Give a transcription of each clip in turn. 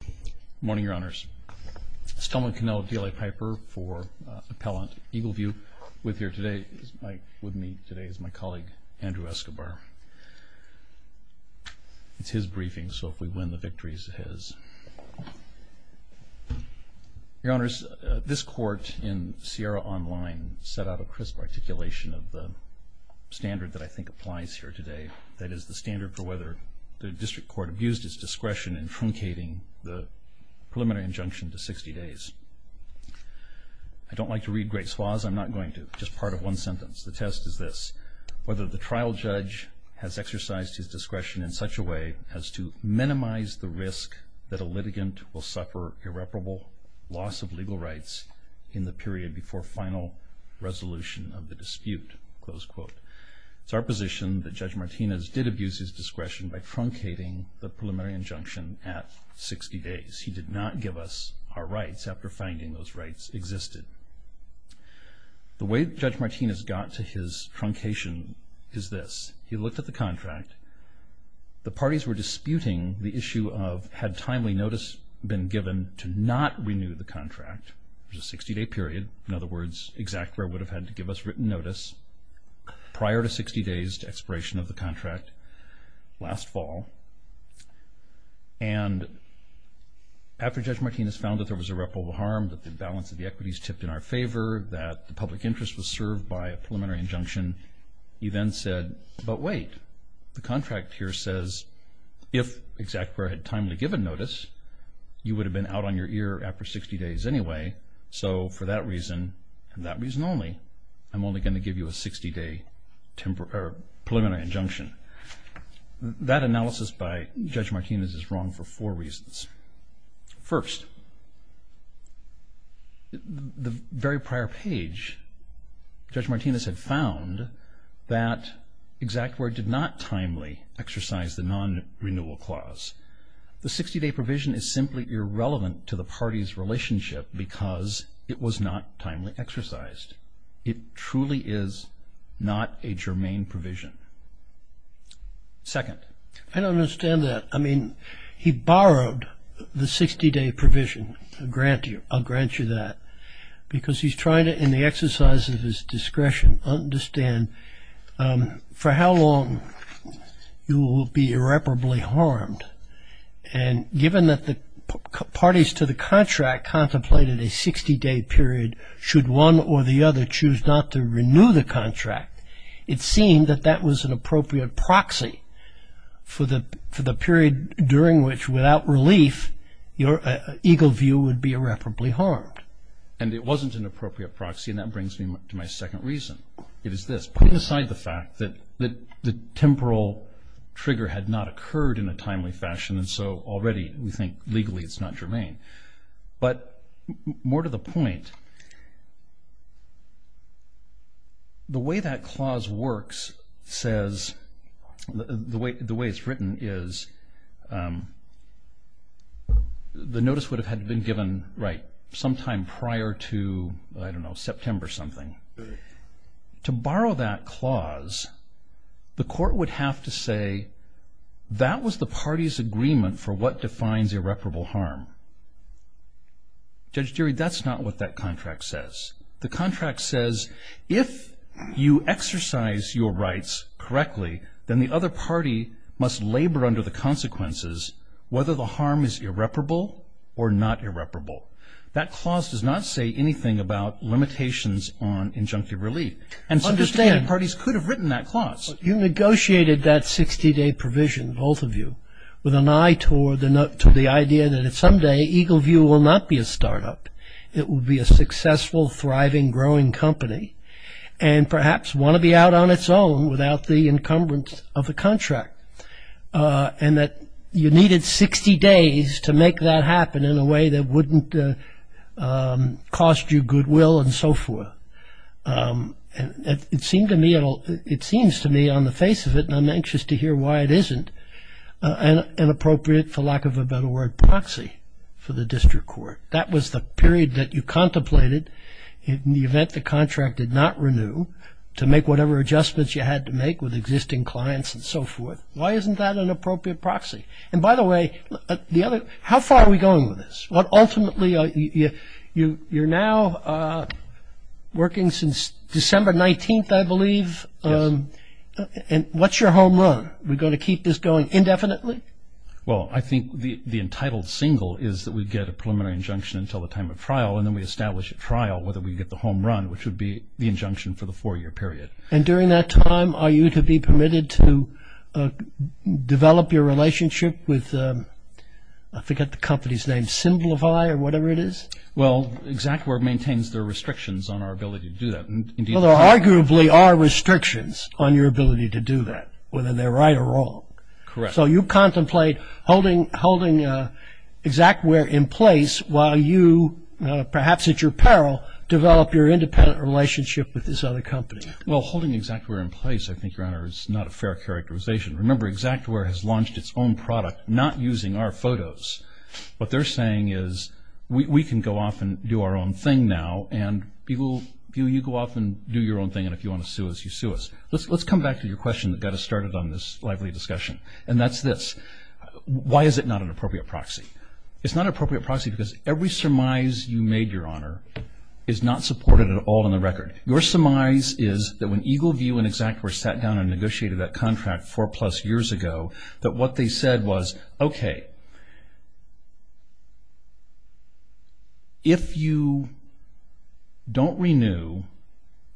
Good morning, Your Honors. This is Telman Cannell of DLA Piper for Appellant Eagle View. With me today is my colleague, Andrew Escobar. It's his briefing, so if we win the victory, it's his. Your Honors, this Court in Sierra Online set out a crisp articulation of the standard that I think applies here today. That is the standard for whether the District Court abused its discretion in truncating the preliminary injunction to 60 days. I don't like to read great swaths. I'm not going to. Just part of one sentence. The test is this. Whether the trial judge has exercised his discretion in such a way as to minimize the risk that a litigant will suffer irreparable loss of legal rights in the period before final resolution of the dispute. It's our position that Judge Martinez did abuse his discretion by truncating the preliminary injunction at 60 days. He did not give us our rights after finding those rights existed. The way Judge Martinez got to his truncation is this. He looked at the contract. The parties were disputing the issue of had timely notice been given to not renew the contract, which is a 60-day period. In other words, ExactWare would have had to give us written notice prior to 60 days to expiration of the contract last fall. And after Judge Martinez found that there was irreparable harm, that the balance of the equities tipped in our favor, that the public interest was served by a preliminary injunction, he then said, but wait. The contract here says if ExactWare had timely given notice, you would have been out on your ear after 60 days anyway. So for that reason and that reason only, I'm only going to give you a 60-day preliminary injunction. That analysis by Judge Martinez is wrong for four reasons. First, the very prior page, Judge Martinez had found that ExactWare did not timely exercise the non-renewal clause. The 60-day provision is simply irrelevant to the party's relationship because it was not timely exercised. It truly is not a germane provision. Second. I don't understand that. I mean, he borrowed the 60-day provision. I'll grant you that. Because he's trying to, in the exercise of his discretion, understand for how long you will be irreparably harmed. And given that the parties to the contract contemplated a 60-day period, should one or the other choose not to renew the contract, it seemed that that was an appropriate proxy for the period during which without relief, your ego view would be irreparably harmed. And it wasn't an appropriate proxy, and that brings me to my second reason. It is this. Put aside the fact that the temporal trigger had not occurred in a timely fashion, and so already we think legally it's not germane. But more to the point, the way that clause works says, the way it's written is, the notice would have had been given sometime prior to, I don't know, September something. To borrow that clause, the court would have to say, that was the party's agreement for what defines irreparable harm. Judge Deary, that's not what that contract says. The contract says, if you exercise your rights correctly, then the other party must labor under the consequences whether the harm is irreparable or not irreparable. That clause does not say anything about limitations on injunctive relief. And so understanding parties could have written that clause. You negotiated that 60-day provision, both of you, with an eye toward the idea that someday ego view will not be a startup. It will be a successful, thriving, growing company, and perhaps want to be out on its own without the encumbrance of the contract. And that you needed 60 days to make that happen in a way that wouldn't cost you goodwill and so forth. It seems to me on the face of it, and I'm anxious to hear why it isn't, an appropriate, for lack of a better word, proxy for the district court. That was the period that you contemplated in the event the contract did not renew to make whatever adjustments you had to make with existing clients and so forth. Why isn't that an appropriate proxy? And by the way, how far are we going with this? Ultimately, you're now working since December 19th, I believe. Yes. And what's your home run? Are we going to keep this going indefinitely? Well, I think the entitled single is that we get a preliminary injunction until the time of trial, and then we establish a trial whether we get the home run, which would be the injunction for the four-year period. And during that time, are you to be permitted to develop your relationship with, I forget the company's name, Symbolify or whatever it is? Well, ExactWare maintains their restrictions on our ability to do that. Well, there arguably are restrictions on your ability to do that, whether they're right or wrong. Correct. So you contemplate holding ExactWare in place while you, perhaps at your peril, develop your independent relationship with this other company. Well, holding ExactWare in place, I think, Your Honor, is not a fair characterization. Remember, ExactWare has launched its own product, not using our photos. What they're saying is we can go off and do our own thing now, and you go off and do your own thing, and if you want to sue us, you sue us. Let's come back to your question that got us started on this lively discussion, and that's this. Why is it not an appropriate proxy? It's not an appropriate proxy because every surmise you made, Your Honor, is not supported at all in the record. Your surmise is that when EagleView and ExactWare sat down and negotiated that contract four-plus years ago, that what they said was, okay, if you don't renew,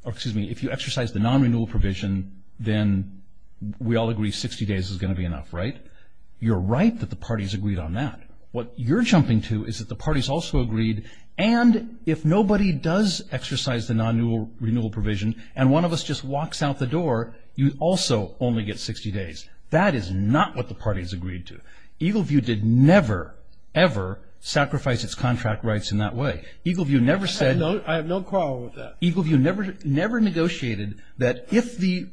or excuse me, if you exercise the non-renewal provision, then we all agree 60 days is going to be enough, right? You're right that the parties agreed on that. What you're jumping to is that the parties also agreed, and if nobody does exercise the non-renewal provision, and one of us just walks out the door, you also only get 60 days. That is not what the parties agreed to. EagleView did never, ever sacrifice its contract rights in that way. EagleView never said... I have no quarrel with that. EagleView never negotiated that if the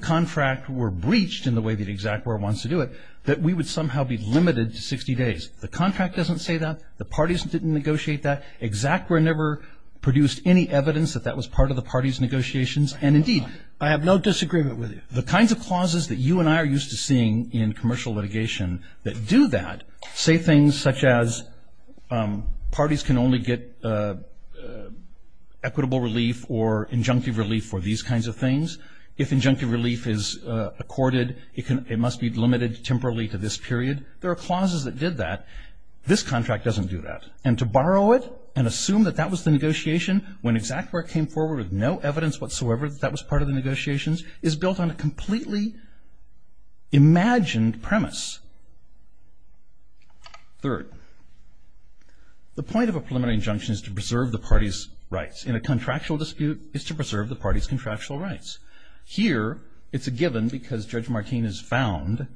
contract were breached in the way that ExactWare wants to do it, that we would somehow be limited to 60 days. The contract doesn't say that. The parties didn't negotiate that. ExactWare never produced any evidence that that was part of the parties' negotiations, and indeed... I have no disagreement with you. The kinds of clauses that you and I are used to seeing in commercial litigation that do that say things such as parties can only get equitable relief or injunctive relief for these kinds of things. If injunctive relief is accorded, it must be limited temporarily to this period. There are clauses that did that. This contract doesn't do that, and to borrow it and assume that that was the negotiation when ExactWare came forward with no evidence whatsoever that that was part of the negotiations is built on a completely imagined premise. Third, the point of a preliminary injunction is to preserve the parties' rights. In a contractual dispute, it's to preserve the parties' contractual rights. Here, it's a given because Judge Martin has found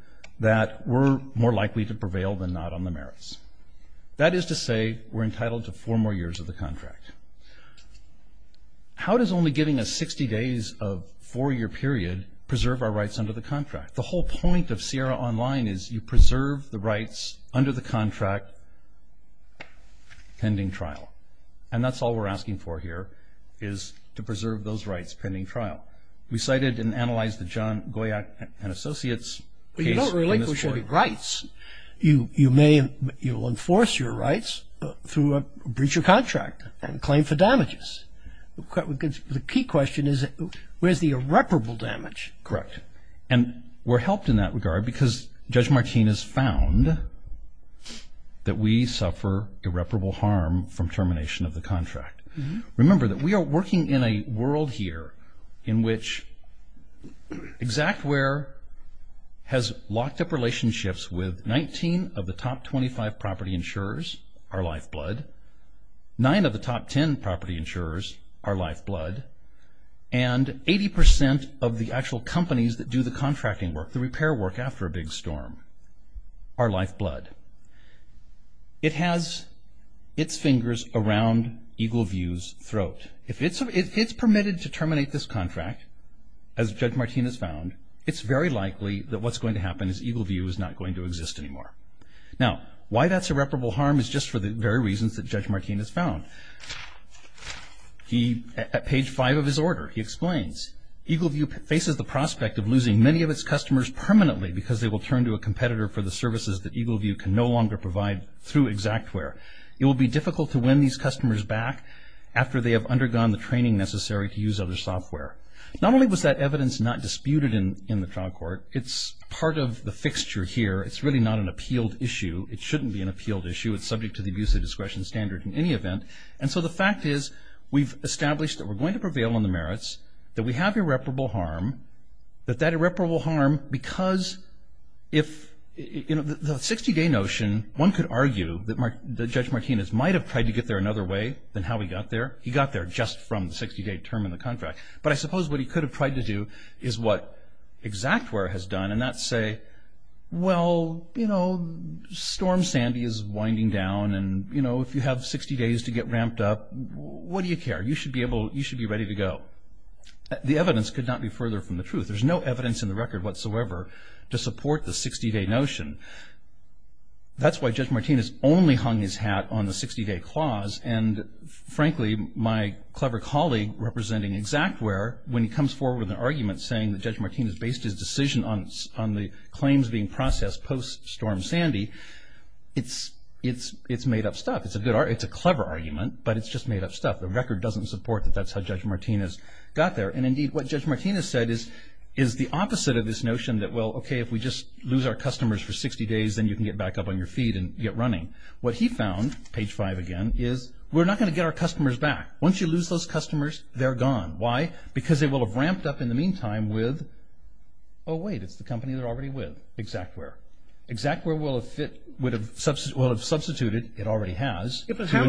that we're more likely to prevail than not on the merits. That is to say we're entitled to four more years of the contract. How does only giving us 60 days of four-year period preserve our rights under the contract? The whole point of Sierra Online is you preserve the rights under the contract pending trial, and that's all we're asking for here is to preserve those rights pending trial. We cited and analyzed the John Goyack and Associates case in this court. But you don't really push any rights. You may enforce your rights through a breach of contract and claim for damages. The key question is where's the irreparable damage? Correct, and we're helped in that regard because Judge Martin has found that we suffer irreparable harm from termination of the contract. Remember that we are working in a world here in which ExactWare has locked up relationships with 19 of the top 25 property insurers, our lifeblood, 9 of the top 10 property insurers, our lifeblood, and 80% of the actual companies that do the contracting work, the repair work after a big storm, our lifeblood. It has its fingers around Eagle View's throat. If it's permitted to terminate this contract, as Judge Martin has found, it's very likely that what's going to happen is Eagle View is not going to exist anymore. Now, why that's irreparable harm is just for the very reasons that Judge Martin has found. He, at page 5 of his order, he explains, Eagle View faces the prospect of losing many of its customers permanently because they will turn to a competitor for the services that Eagle View can no longer provide through ExactWare. It will be difficult to win these customers back after they have undergone the training necessary to use other software. Not only was that evidence not disputed in the trial court, it's part of the fixture here. It's really not an appealed issue. It shouldn't be an appealed issue. It's subject to the abuse of discretion standard in any event. And so the fact is we've established that we're going to prevail on the merits, that we have irreparable harm, that that irreparable harm because if, you know, the 60-day notion, one could argue that Judge Martinez might have tried to get there another way than how he got there. He got there just from the 60-day term in the contract. But I suppose what he could have tried to do is what ExactWare has done, and that's say, well, you know, storm Sandy is winding down, and, you know, if you have 60 days to get ramped up, what do you care? You should be able, you should be ready to go. The evidence could not be further from the truth. There's no evidence in the record whatsoever to support the 60-day notion. That's why Judge Martinez only hung his hat on the 60-day clause, and, frankly, my clever colleague representing ExactWare, when he comes forward with an argument saying that Judge Martinez based his decision on the claims being processed post-storm Sandy, it's made-up stuff. It's a clever argument, but it's just made-up stuff. The record doesn't support that that's how Judge Martinez got there. And, indeed, what Judge Martinez said is the opposite of this notion that, well, okay, if we just lose our customers for 60 days, then you can get back up on your feet and get running. What he found, page 5 again, is we're not going to get our customers back. Once you lose those customers, they're gone. Why? Because they will have ramped up in the meantime with, oh, wait, it's the company they're already with, ExactWare. ExactWare will have substituted, it already has. How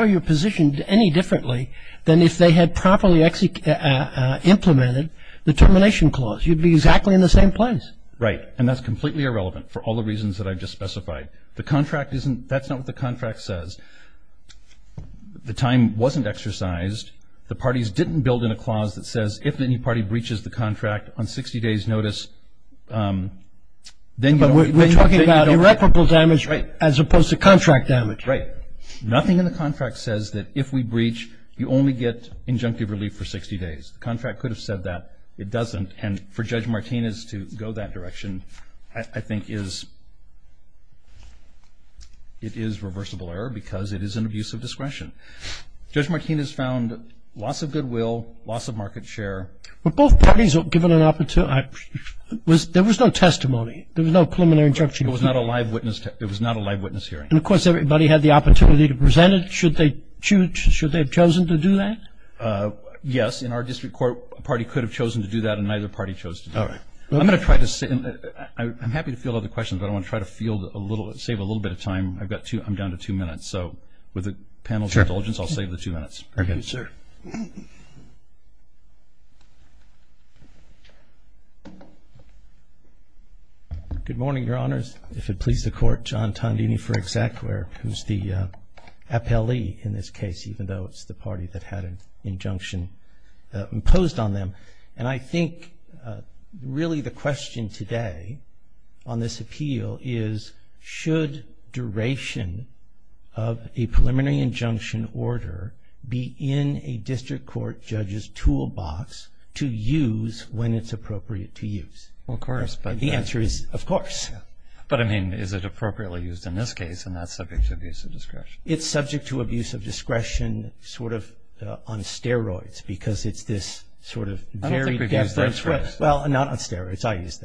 are you positioned any differently than if they had properly implemented the termination clause? You'd be exactly in the same place. Right, and that's completely irrelevant for all the reasons that I just specified. The contract isn't, that's not what the contract says. The time wasn't exercised. The parties didn't build in a clause that says if any party breaches the contract on 60 days' notice, then you don't. But we're talking about irreparable damage as opposed to contract damage. Right. Nothing in the contract says that if we breach, you only get injunctive relief for 60 days. The contract could have said that. It doesn't. And for Judge Martinez to go that direction, I think it is reversible error because it is an abuse of discretion. Judge Martinez found loss of goodwill, loss of market share. Were both parties given an opportunity? There was no testimony. There was no preliminary injunction. There was not a live witness hearing. And, of course, everybody had the opportunity to present it. Should they have chosen to do that? Yes, in our district court, a party could have chosen to do that and neither party chose to do that. I'm going to try to save a little bit of time. I'm down to two minutes. So with the panel's indulgence, I'll save the two minutes. Thank you, sir. Good morning, Your Honors. If it pleases the Court, John Tondini for Exec, who's the appellee in this case, even though it's the party that had an injunction imposed on them. And I think really the question today on this appeal is, should duration of a preliminary injunction order be in a district court judge's toolbox to use when it's appropriate to use? Of course. And the answer is, of course. But, I mean, is it appropriately used in this case and not subject to abuse of discretion? It's subject to abuse of discretion sort of on steroids because it's this sort of very definite. I don't think we've used that phrase. Well, not on steroids. I use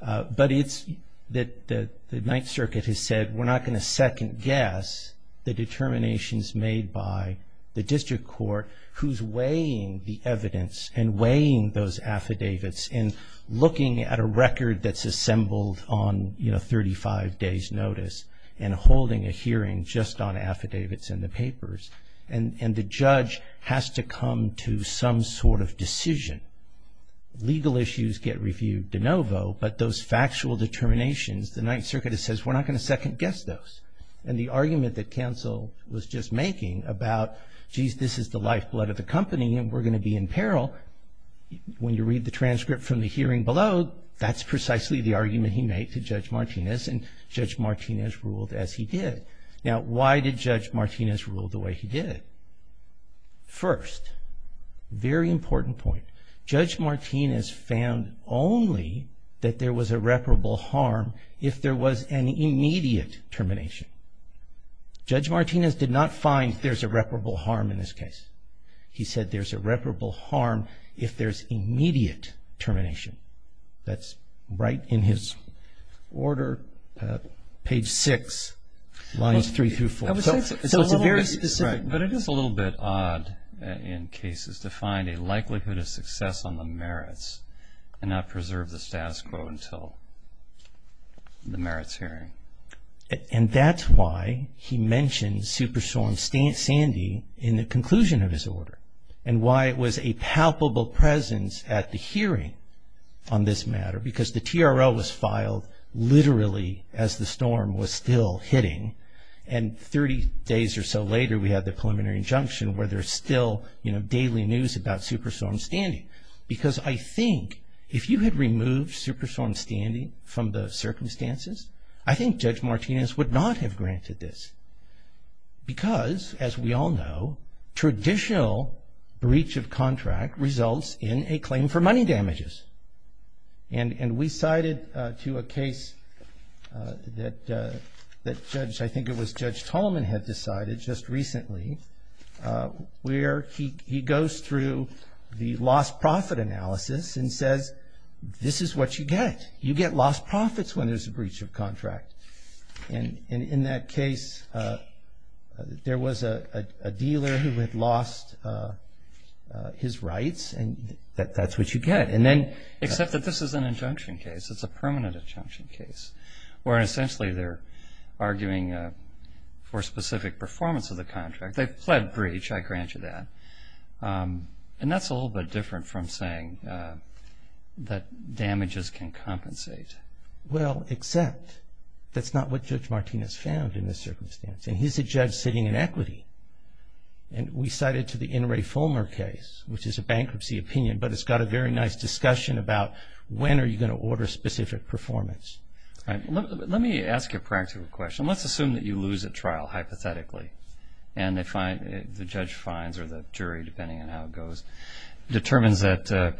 that. But it's that the Ninth Circuit has said, we're not going to second-guess the determinations made by the district court who's weighing the evidence and weighing those affidavits and looking at a record that's assembled on 35 days' notice and holding a hearing just on affidavits and the papers. And the judge has to come to some sort of decision. Legal issues get reviewed de novo, but those factual determinations, the Ninth Circuit has said, we're not going to second-guess those. And the argument that counsel was just making about, geez, this is the lifeblood of the company and we're going to be in peril, when you read the transcript from the hearing below, that's precisely the argument he made to Judge Martinez. And Judge Martinez ruled as he did. Now, why did Judge Martinez rule the way he did? First, very important point. Judge Martinez found only that there was irreparable harm if there was an immediate termination. Judge Martinez did not find there's irreparable harm in this case. He said there's irreparable harm if there's immediate termination. That's right in his order, page 6, lines 3 through 4. But it is a little bit odd in cases to find a likelihood of success on the merits and not preserve the status quo until the merits hearing. And that's why he mentioned Superstorm Sandy in the conclusion of his order and why it was a palpable presence at the hearing on this matter, because the TRL was filed literally as the storm was still hitting, and 30 days or so later we had the preliminary injunction where there's still, you know, daily news about Superstorm Sandy. Because I think if you had removed Superstorm Sandy from the circumstances, I think Judge Martinez would not have granted this. Because, as we all know, traditional breach of contract results in a claim for money damages. And we cited to a case that Judge, I think it was Judge Tolman had decided just recently, where he goes through the lost profit analysis and says, this is what you get. You get lost profits when there's a breach of contract. And in that case, there was a dealer who had lost his rights, and that's what you get. Except that this is an injunction case. It's a permanent injunction case, where essentially they're arguing for specific performance of the contract. They've pled breach, I grant you that. And that's a little bit different from saying that damages can compensate. Well, except that's not what Judge Martinez found in this circumstance. And he's a judge sitting in equity. And we cited to the In re Fulmer case, which is a bankruptcy opinion, but it's got a very nice discussion about when are you going to order specific performance. Let me ask you a practical question. Let's assume that you lose at trial, hypothetically. And the judge finds, or the jury, depending on how it goes, determines that,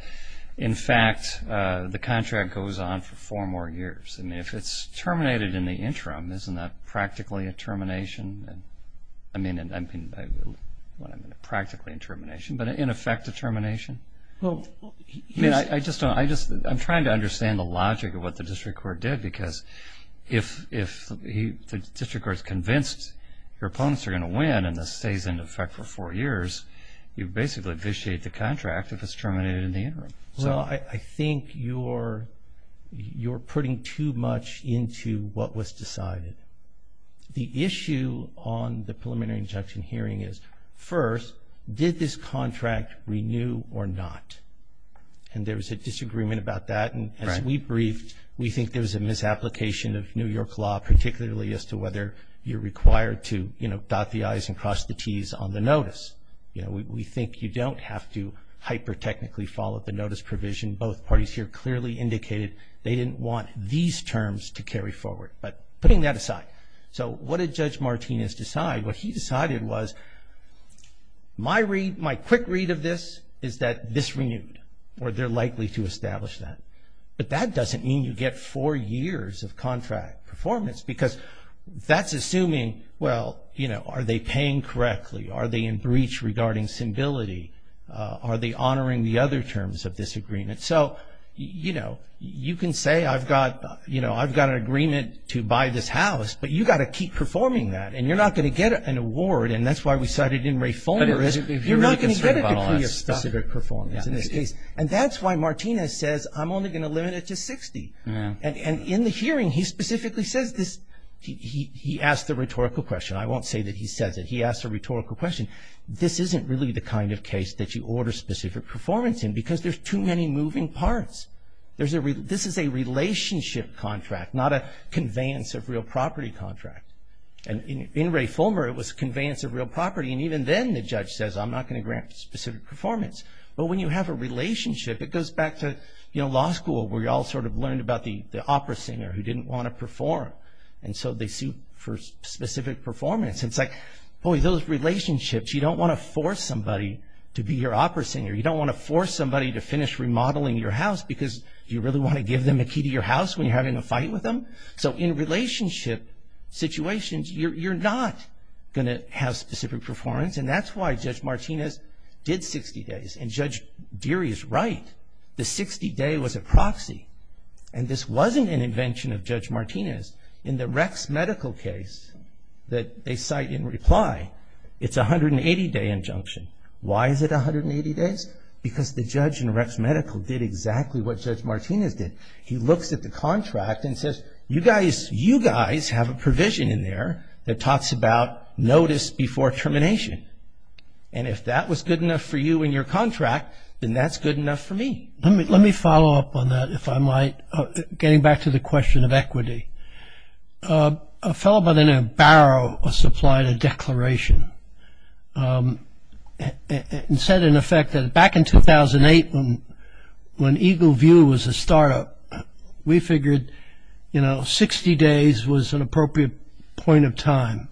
in fact, the contract goes on for four more years. And if it's terminated in the interim, isn't that practically a termination? I mean, practically a termination, but in effect a termination? Well, I just don't know. I'm trying to understand the logic of what the district court did, because if the district court's convinced your opponents are going to win and this stays in effect for four years, you basically vitiate the contract if it's terminated in the interim. Well, I think you're putting too much into what was decided. The issue on the preliminary injunction hearing is, first, did this contract renew or not? And there was a disagreement about that. As we briefed, we think there was a misapplication of New York law, particularly as to whether you're required to, you know, dot the I's and cross the T's on the notice. You know, we think you don't have to hyper-technically follow the notice provision. Both parties here clearly indicated they didn't want these terms to carry forward. But putting that aside, so what did Judge Martinez decide? What he decided was, my quick read of this is that this renewed or they're likely to establish that. But that doesn't mean you get four years of contract performance, because that's assuming, well, you know, are they paying correctly? Are they in breach regarding civility? Are they honoring the other terms of this agreement? So, you know, you can say I've got an agreement to buy this house, but you've got to keep performing that, and you're not going to get an award, and that's why we cited in reformerism. You're not going to get a degree of specific performance in this case. And that's why Martinez says I'm only going to limit it to 60. And in the hearing, he specifically says this. He asked the rhetorical question. I won't say that he says it. He asked a rhetorical question. This isn't really the kind of case that you order specific performance in, because there's too many moving parts. This is a relationship contract, not a conveyance of real property contract. And in reformer, it was conveyance of real property, and even then the judge says I'm not going to grant specific performance. But when you have a relationship, it goes back to, you know, law school, where you all sort of learned about the opera singer who didn't want to perform, and so they sued for specific performance. And it's like, boy, those relationships, you don't want to force somebody to be your opera singer. You don't want to force somebody to finish remodeling your house, because do you really want to give them a key to your house when you're having a fight with them? So in relationship situations, you're not going to have specific performance, and that's why Judge Martinez did 60 days. And Judge Deary is right. The 60-day was a proxy. And this wasn't an invention of Judge Martinez. In the Rex medical case that they cite in reply, it's a 180-day injunction. Why is it 180 days? Because the judge in Rex medical did exactly what Judge Martinez did. He looks at the contract and says, you guys have a provision in there that talks about notice before termination. And if that was good enough for you in your contract, then that's good enough for me. Let me follow up on that, if I might, getting back to the question of equity. A fellow by the name of Barrow supplied a declaration and said, in effect, that back in 2008, when Eagle View was a startup, we figured 60 days was an appropriate point of time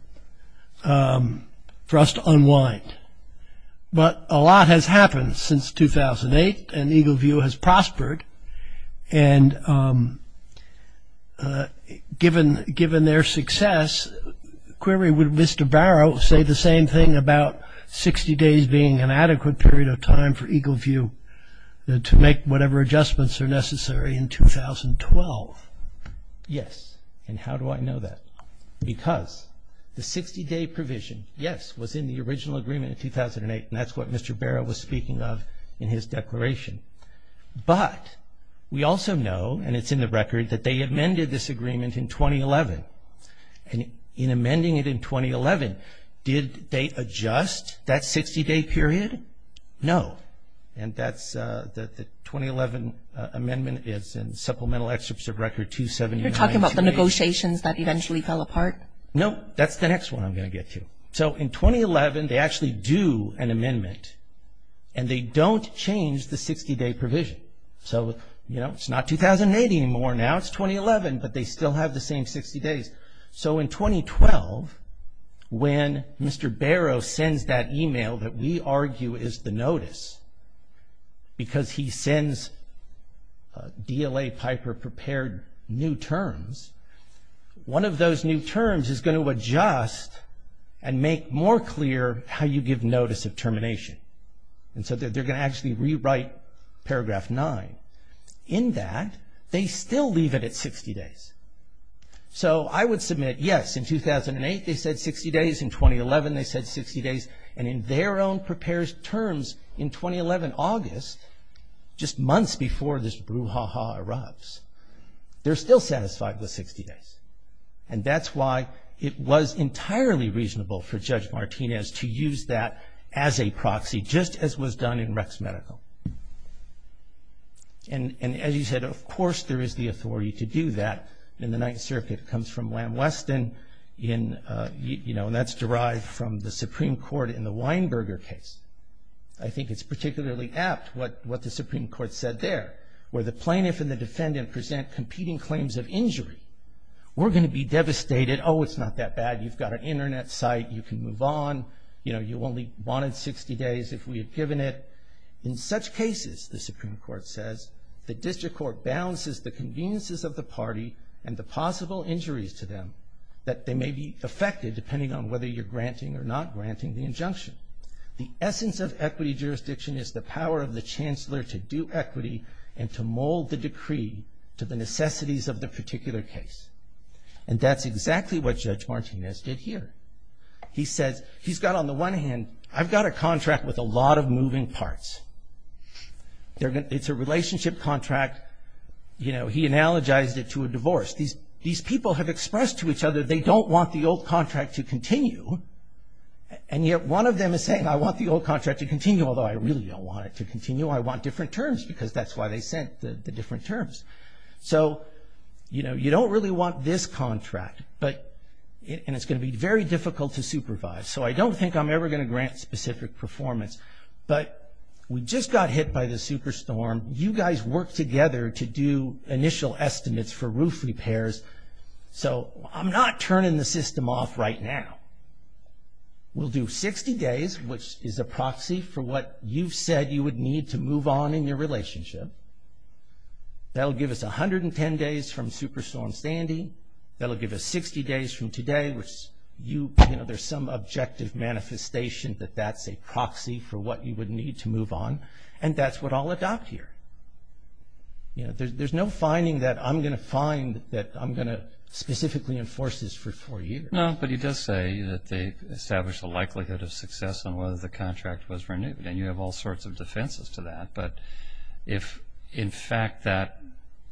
for us to unwind. But a lot has happened since 2008, and Eagle View has prospered. And given their success, query, would Mr. Barrow say the same thing about 60 days being an adequate period of time for Eagle View to make whatever adjustments are necessary in 2012? Yes. And how do I know that? Because the 60-day provision, yes, was in the original agreement in 2008, and that's what Mr. Barrow was speaking of in his declaration. But we also know, and it's in the record, that they amended this agreement in 2011. And in amending it in 2011, did they adjust that 60-day period? No. And that's the 2011 amendment is in Supplemental Excerpts of Record 279. You're talking about the negotiations that eventually fell apart? No, that's the next one I'm going to get to. So in 2011, they actually do an amendment, and they don't change the 60-day provision. So, you know, it's not 2008 anymore. Now it's 2011, but they still have the same 60 days. So in 2012, when Mr. Barrow sends that email that we argue is the notice, because he sends DLA Piper prepared new terms, one of those new terms is going to adjust and make more clear how you give notice of termination. And so they're going to actually rewrite Paragraph 9. In that, they still leave it at 60 days. So I would submit, yes, in 2008 they said 60 days, in 2011 they said 60 days, and in their own prepared terms in 2011 August, just months before this brouhaha erupts, they're still satisfied with 60 days. And that's why it was entirely reasonable for Judge Martinez to use that as a proxy, just as was done in Rex Medical. And as you said, of course there is the authority to do that in the Ninth Circuit. It comes from Lam Weston in, you know, and that's derived from the Supreme Court in the Weinberger case. I think it's particularly apt what the Supreme Court said there, where the plaintiff and the defendant present competing claims of injury. We're going to be devastated. Oh, it's not that bad. You've got an Internet site. You can move on. You know, you only wanted 60 days if we had given it. In such cases, the Supreme Court says, the district court balances the conveniences of the party and the possible injuries to them that they may be affected depending on whether you're granting or not granting the injunction. The essence of equity jurisdiction is the power of the chancellor to do equity and to mold the decree to the necessities of the particular case. And that's exactly what Judge Martinez did here. He says, he's got on the one hand, I've got a contract with a lot of moving parts. It's a relationship contract. You know, he analogized it to a divorce. These people have expressed to each other they don't want the old contract to continue, and yet one of them is saying, I want the old contract to continue, although I really don't want it to continue. I want different terms because that's why they sent the different terms. So, you know, you don't really want this contract, and it's going to be very difficult to supervise, so I don't think I'm ever going to grant specific performance. But we just got hit by the super storm. You guys worked together to do initial estimates for roof repairs, so I'm not turning the system off right now. We'll do 60 days, which is a proxy for what you've said you would need to move on in your relationship. That'll give us 110 days from super storm standing. That'll give us 60 days from today, which, you know, there's some objective manifestation that that's a proxy for what you would need to move on, and that's what I'll adopt here. You know, there's no finding that I'm going to find that I'm going to specifically enforce this for four years. No, but he does say that they established a likelihood of success on whether the contract was renewed, and you have all sorts of defenses to that. But if, in fact, that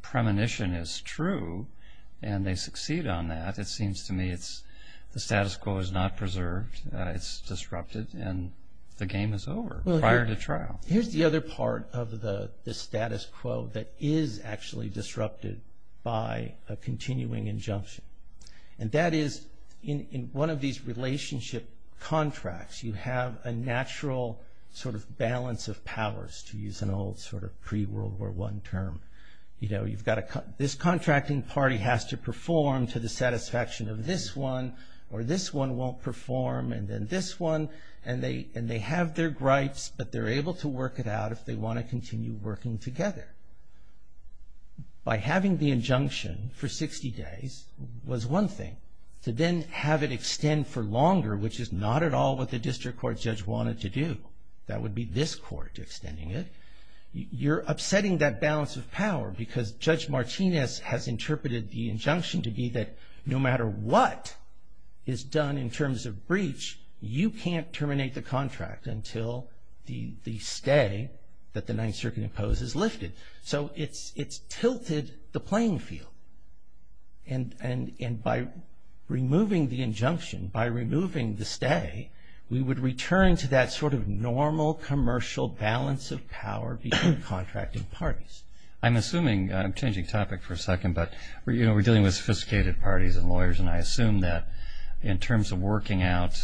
premonition is true and they succeed on that, it seems to me the status quo is not preserved. It's disrupted, and the game is over prior to trial. Here's the other part of the status quo that is actually disrupted by a continuing injunction, and that is in one of these relationship contracts, you have a natural sort of balance of powers, to use an old sort of pre-World War I term. You know, this contracting party has to perform to the satisfaction of this one, or this one won't perform, and then this one, and they have their gripes, but they're able to work it out if they want to continue working together. By having the injunction for 60 days was one thing. To then have it extend for longer, which is not at all what the district court judge wanted to do, that would be this court extending it, you're upsetting that balance of power, because Judge Martinez has interpreted the injunction to be that no matter what is done in terms of breach, you can't terminate the contract until the stay that the Ninth Circuit imposes is lifted. So it's tilted the playing field, and by removing the injunction, by removing the stay, we would return to that sort of normal commercial balance of power between contracting parties. I'm assuming, I'm changing topic for a second, but we're dealing with sophisticated parties and lawyers, and I assume that in terms of working out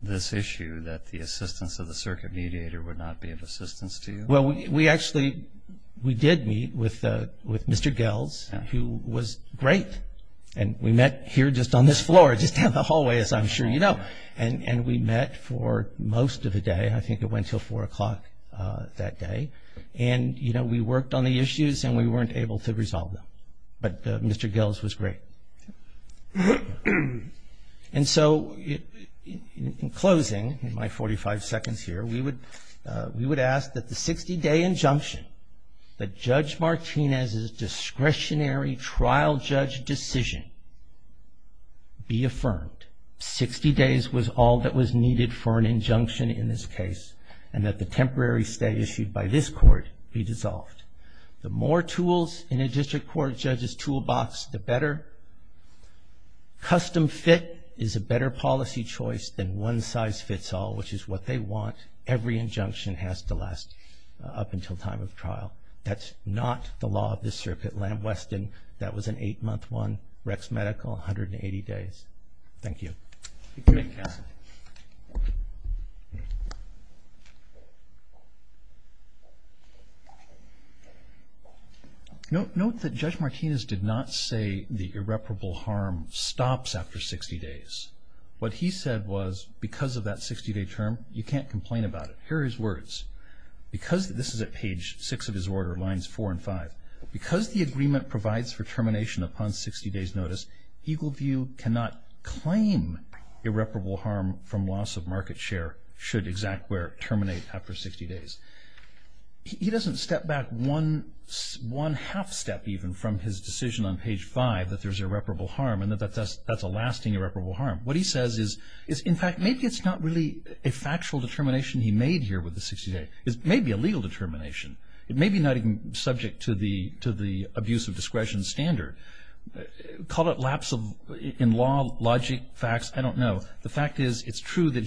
this issue, that the assistance of the circuit mediator would not be of assistance to you? Well, we actually, we did meet with Mr. Gels, who was great, and we met here just on this floor, just down the hallway, as I'm sure you know, and we met for most of the day. I think it went until 4 o'clock that day, and, you know, we worked on the issues, and we weren't able to resolve them, but Mr. Gels was great. And so in closing, in my 45 seconds here, we would ask that the 60-day injunction, that Judge Martinez's discretionary trial judge decision be affirmed, 60 days was all that was needed for an injunction in this case, and that the temporary stay issued by this court be dissolved. The more tools in a district court judge's toolbox, the better. Custom fit is a better policy choice than one-size-fits-all, which is what they want. Every injunction has to last up until time of trial. That's not the law of this circuit. Lamb-Weston, that was an eight-month one. Rex Medical, 180 days. Thank you. You may pass it. Note that Judge Martinez did not say the irreparable harm stops after 60 days. What he said was because of that 60-day term, you can't complain about it. Here are his words. This is at page 6 of his order, lines 4 and 5. He doesn't step back one half-step even from his decision on page 5 that there's irreparable harm and that that's a lasting irreparable harm. What he says is, in fact, maybe it's not really a factual determination he made here with the 60 days. It may be a legal determination. It may be not even subject to the abuse of discretion standard. Call it lapse in logic, facts, I don't know. The fact is it's true that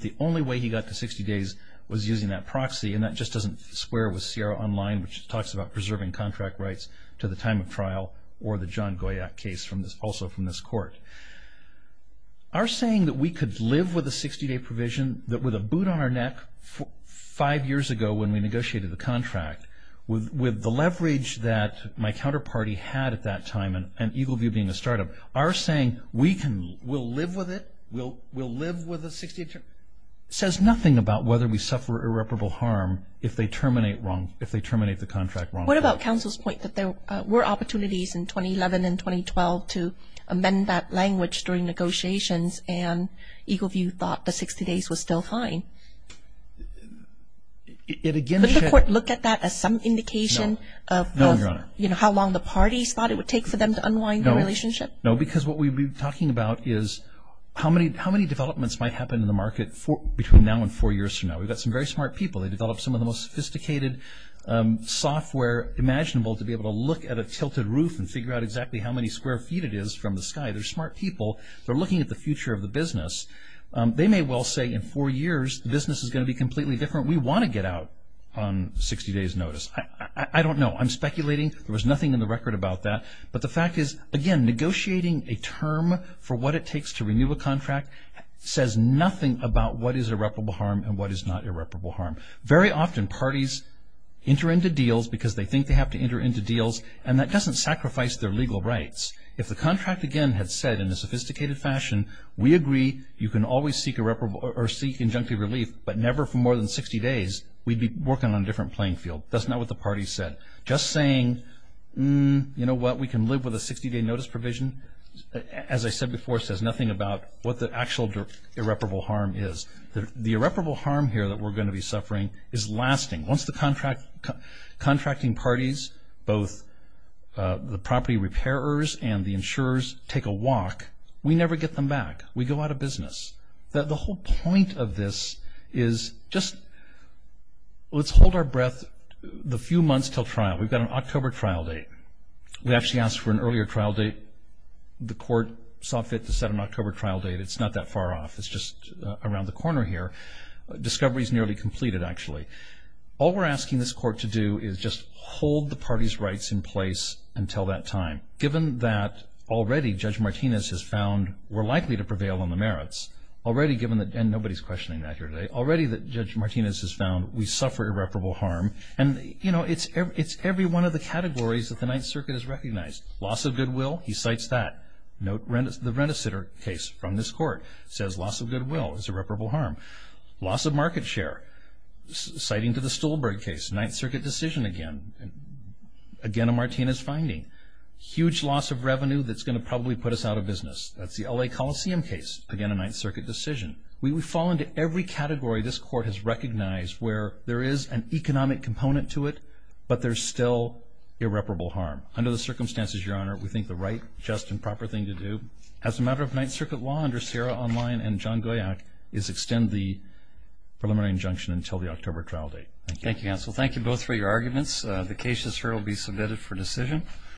the only way he got to 60 days was using that proxy, and that just doesn't square with Sierra Online, which talks about preserving contract rights to the time of trial or the John Goyack case also from this court. Our saying that we could live with a 60-day provision, that with a boot on our neck five years ago when we negotiated the contract, with the leverage that my counterparty had at that time and Eagle View being a startup, our saying we'll live with it, we'll live with a 60-day term, says nothing about whether we suffer irreparable harm if they terminate the contract wrongfully. What about counsel's point that there were opportunities in 2011 and 2012 to amend that language during negotiations and Eagle View thought the 60 days was still fine? Would the court look at that as some indication of how long the parties thought it would take for them to unwind the relationship? No, because what we'd be talking about is how many developments might happen in the market between now and four years from now. We've got some very smart people. They developed some of the most sophisticated software imaginable to be able to look at a tilted roof and figure out exactly how many square feet it is from the sky. They're smart people. They're looking at the future of the business. They may well say in four years, the business is going to be completely different. We want to get out on 60 days' notice. I don't know. I'm speculating. There was nothing in the record about that. But the fact is, again, negotiating a term for what it takes to renew a contract says nothing about what is irreparable harm and what is not irreparable harm. Very often, parties enter into deals because they think they have to enter into deals, and that doesn't sacrifice their legal rights. If the contract, again, had said in a sophisticated fashion, we agree you can always seek injunctive relief, but never for more than 60 days, we'd be working on a different playing field. That's not what the parties said. Just saying, you know what, we can live with a 60-day notice provision, as I said before, says nothing about what the actual irreparable harm is. The irreparable harm here that we're going to be suffering is lasting. Once the contracting parties, both the property repairers and the insurers, take a walk, we never get them back. We go out of business. The whole point of this is just let's hold our breath the few months until trial. We've got an October trial date. We actually asked for an earlier trial date. The court saw fit to set an October trial date. It's not that far off. It's just around the corner here. Discovery is nearly completed, actually. All we're asking this court to do is just hold the parties' rights in place until that time. Given that already Judge Martinez has found we're likely to prevail on the merits, already given that, and nobody's questioning that here today, already that Judge Martinez has found we suffer irreparable harm, and, you know, it's every one of the categories that the Ninth Circuit has recognized. Loss of goodwill, he cites that. The Rendezitter case from this court says loss of goodwill is irreparable harm. Loss of market share, citing to the Stolberg case, Ninth Circuit decision again, again a Martinez finding. Huge loss of revenue that's going to probably put us out of business. That's the L.A. Coliseum case, again a Ninth Circuit decision. We fall into every category this court has recognized where there is an economic component to it, but there's still irreparable harm. Under the circumstances, Your Honor, we think the right, just, and proper thing to do as a matter of Ninth Circuit law under Sierra Online and John Goyack is extend the preliminary injunction until the October trial date. Thank you. Thank you, counsel. Thank you both for your arguments. The cases here will be submitted for decision.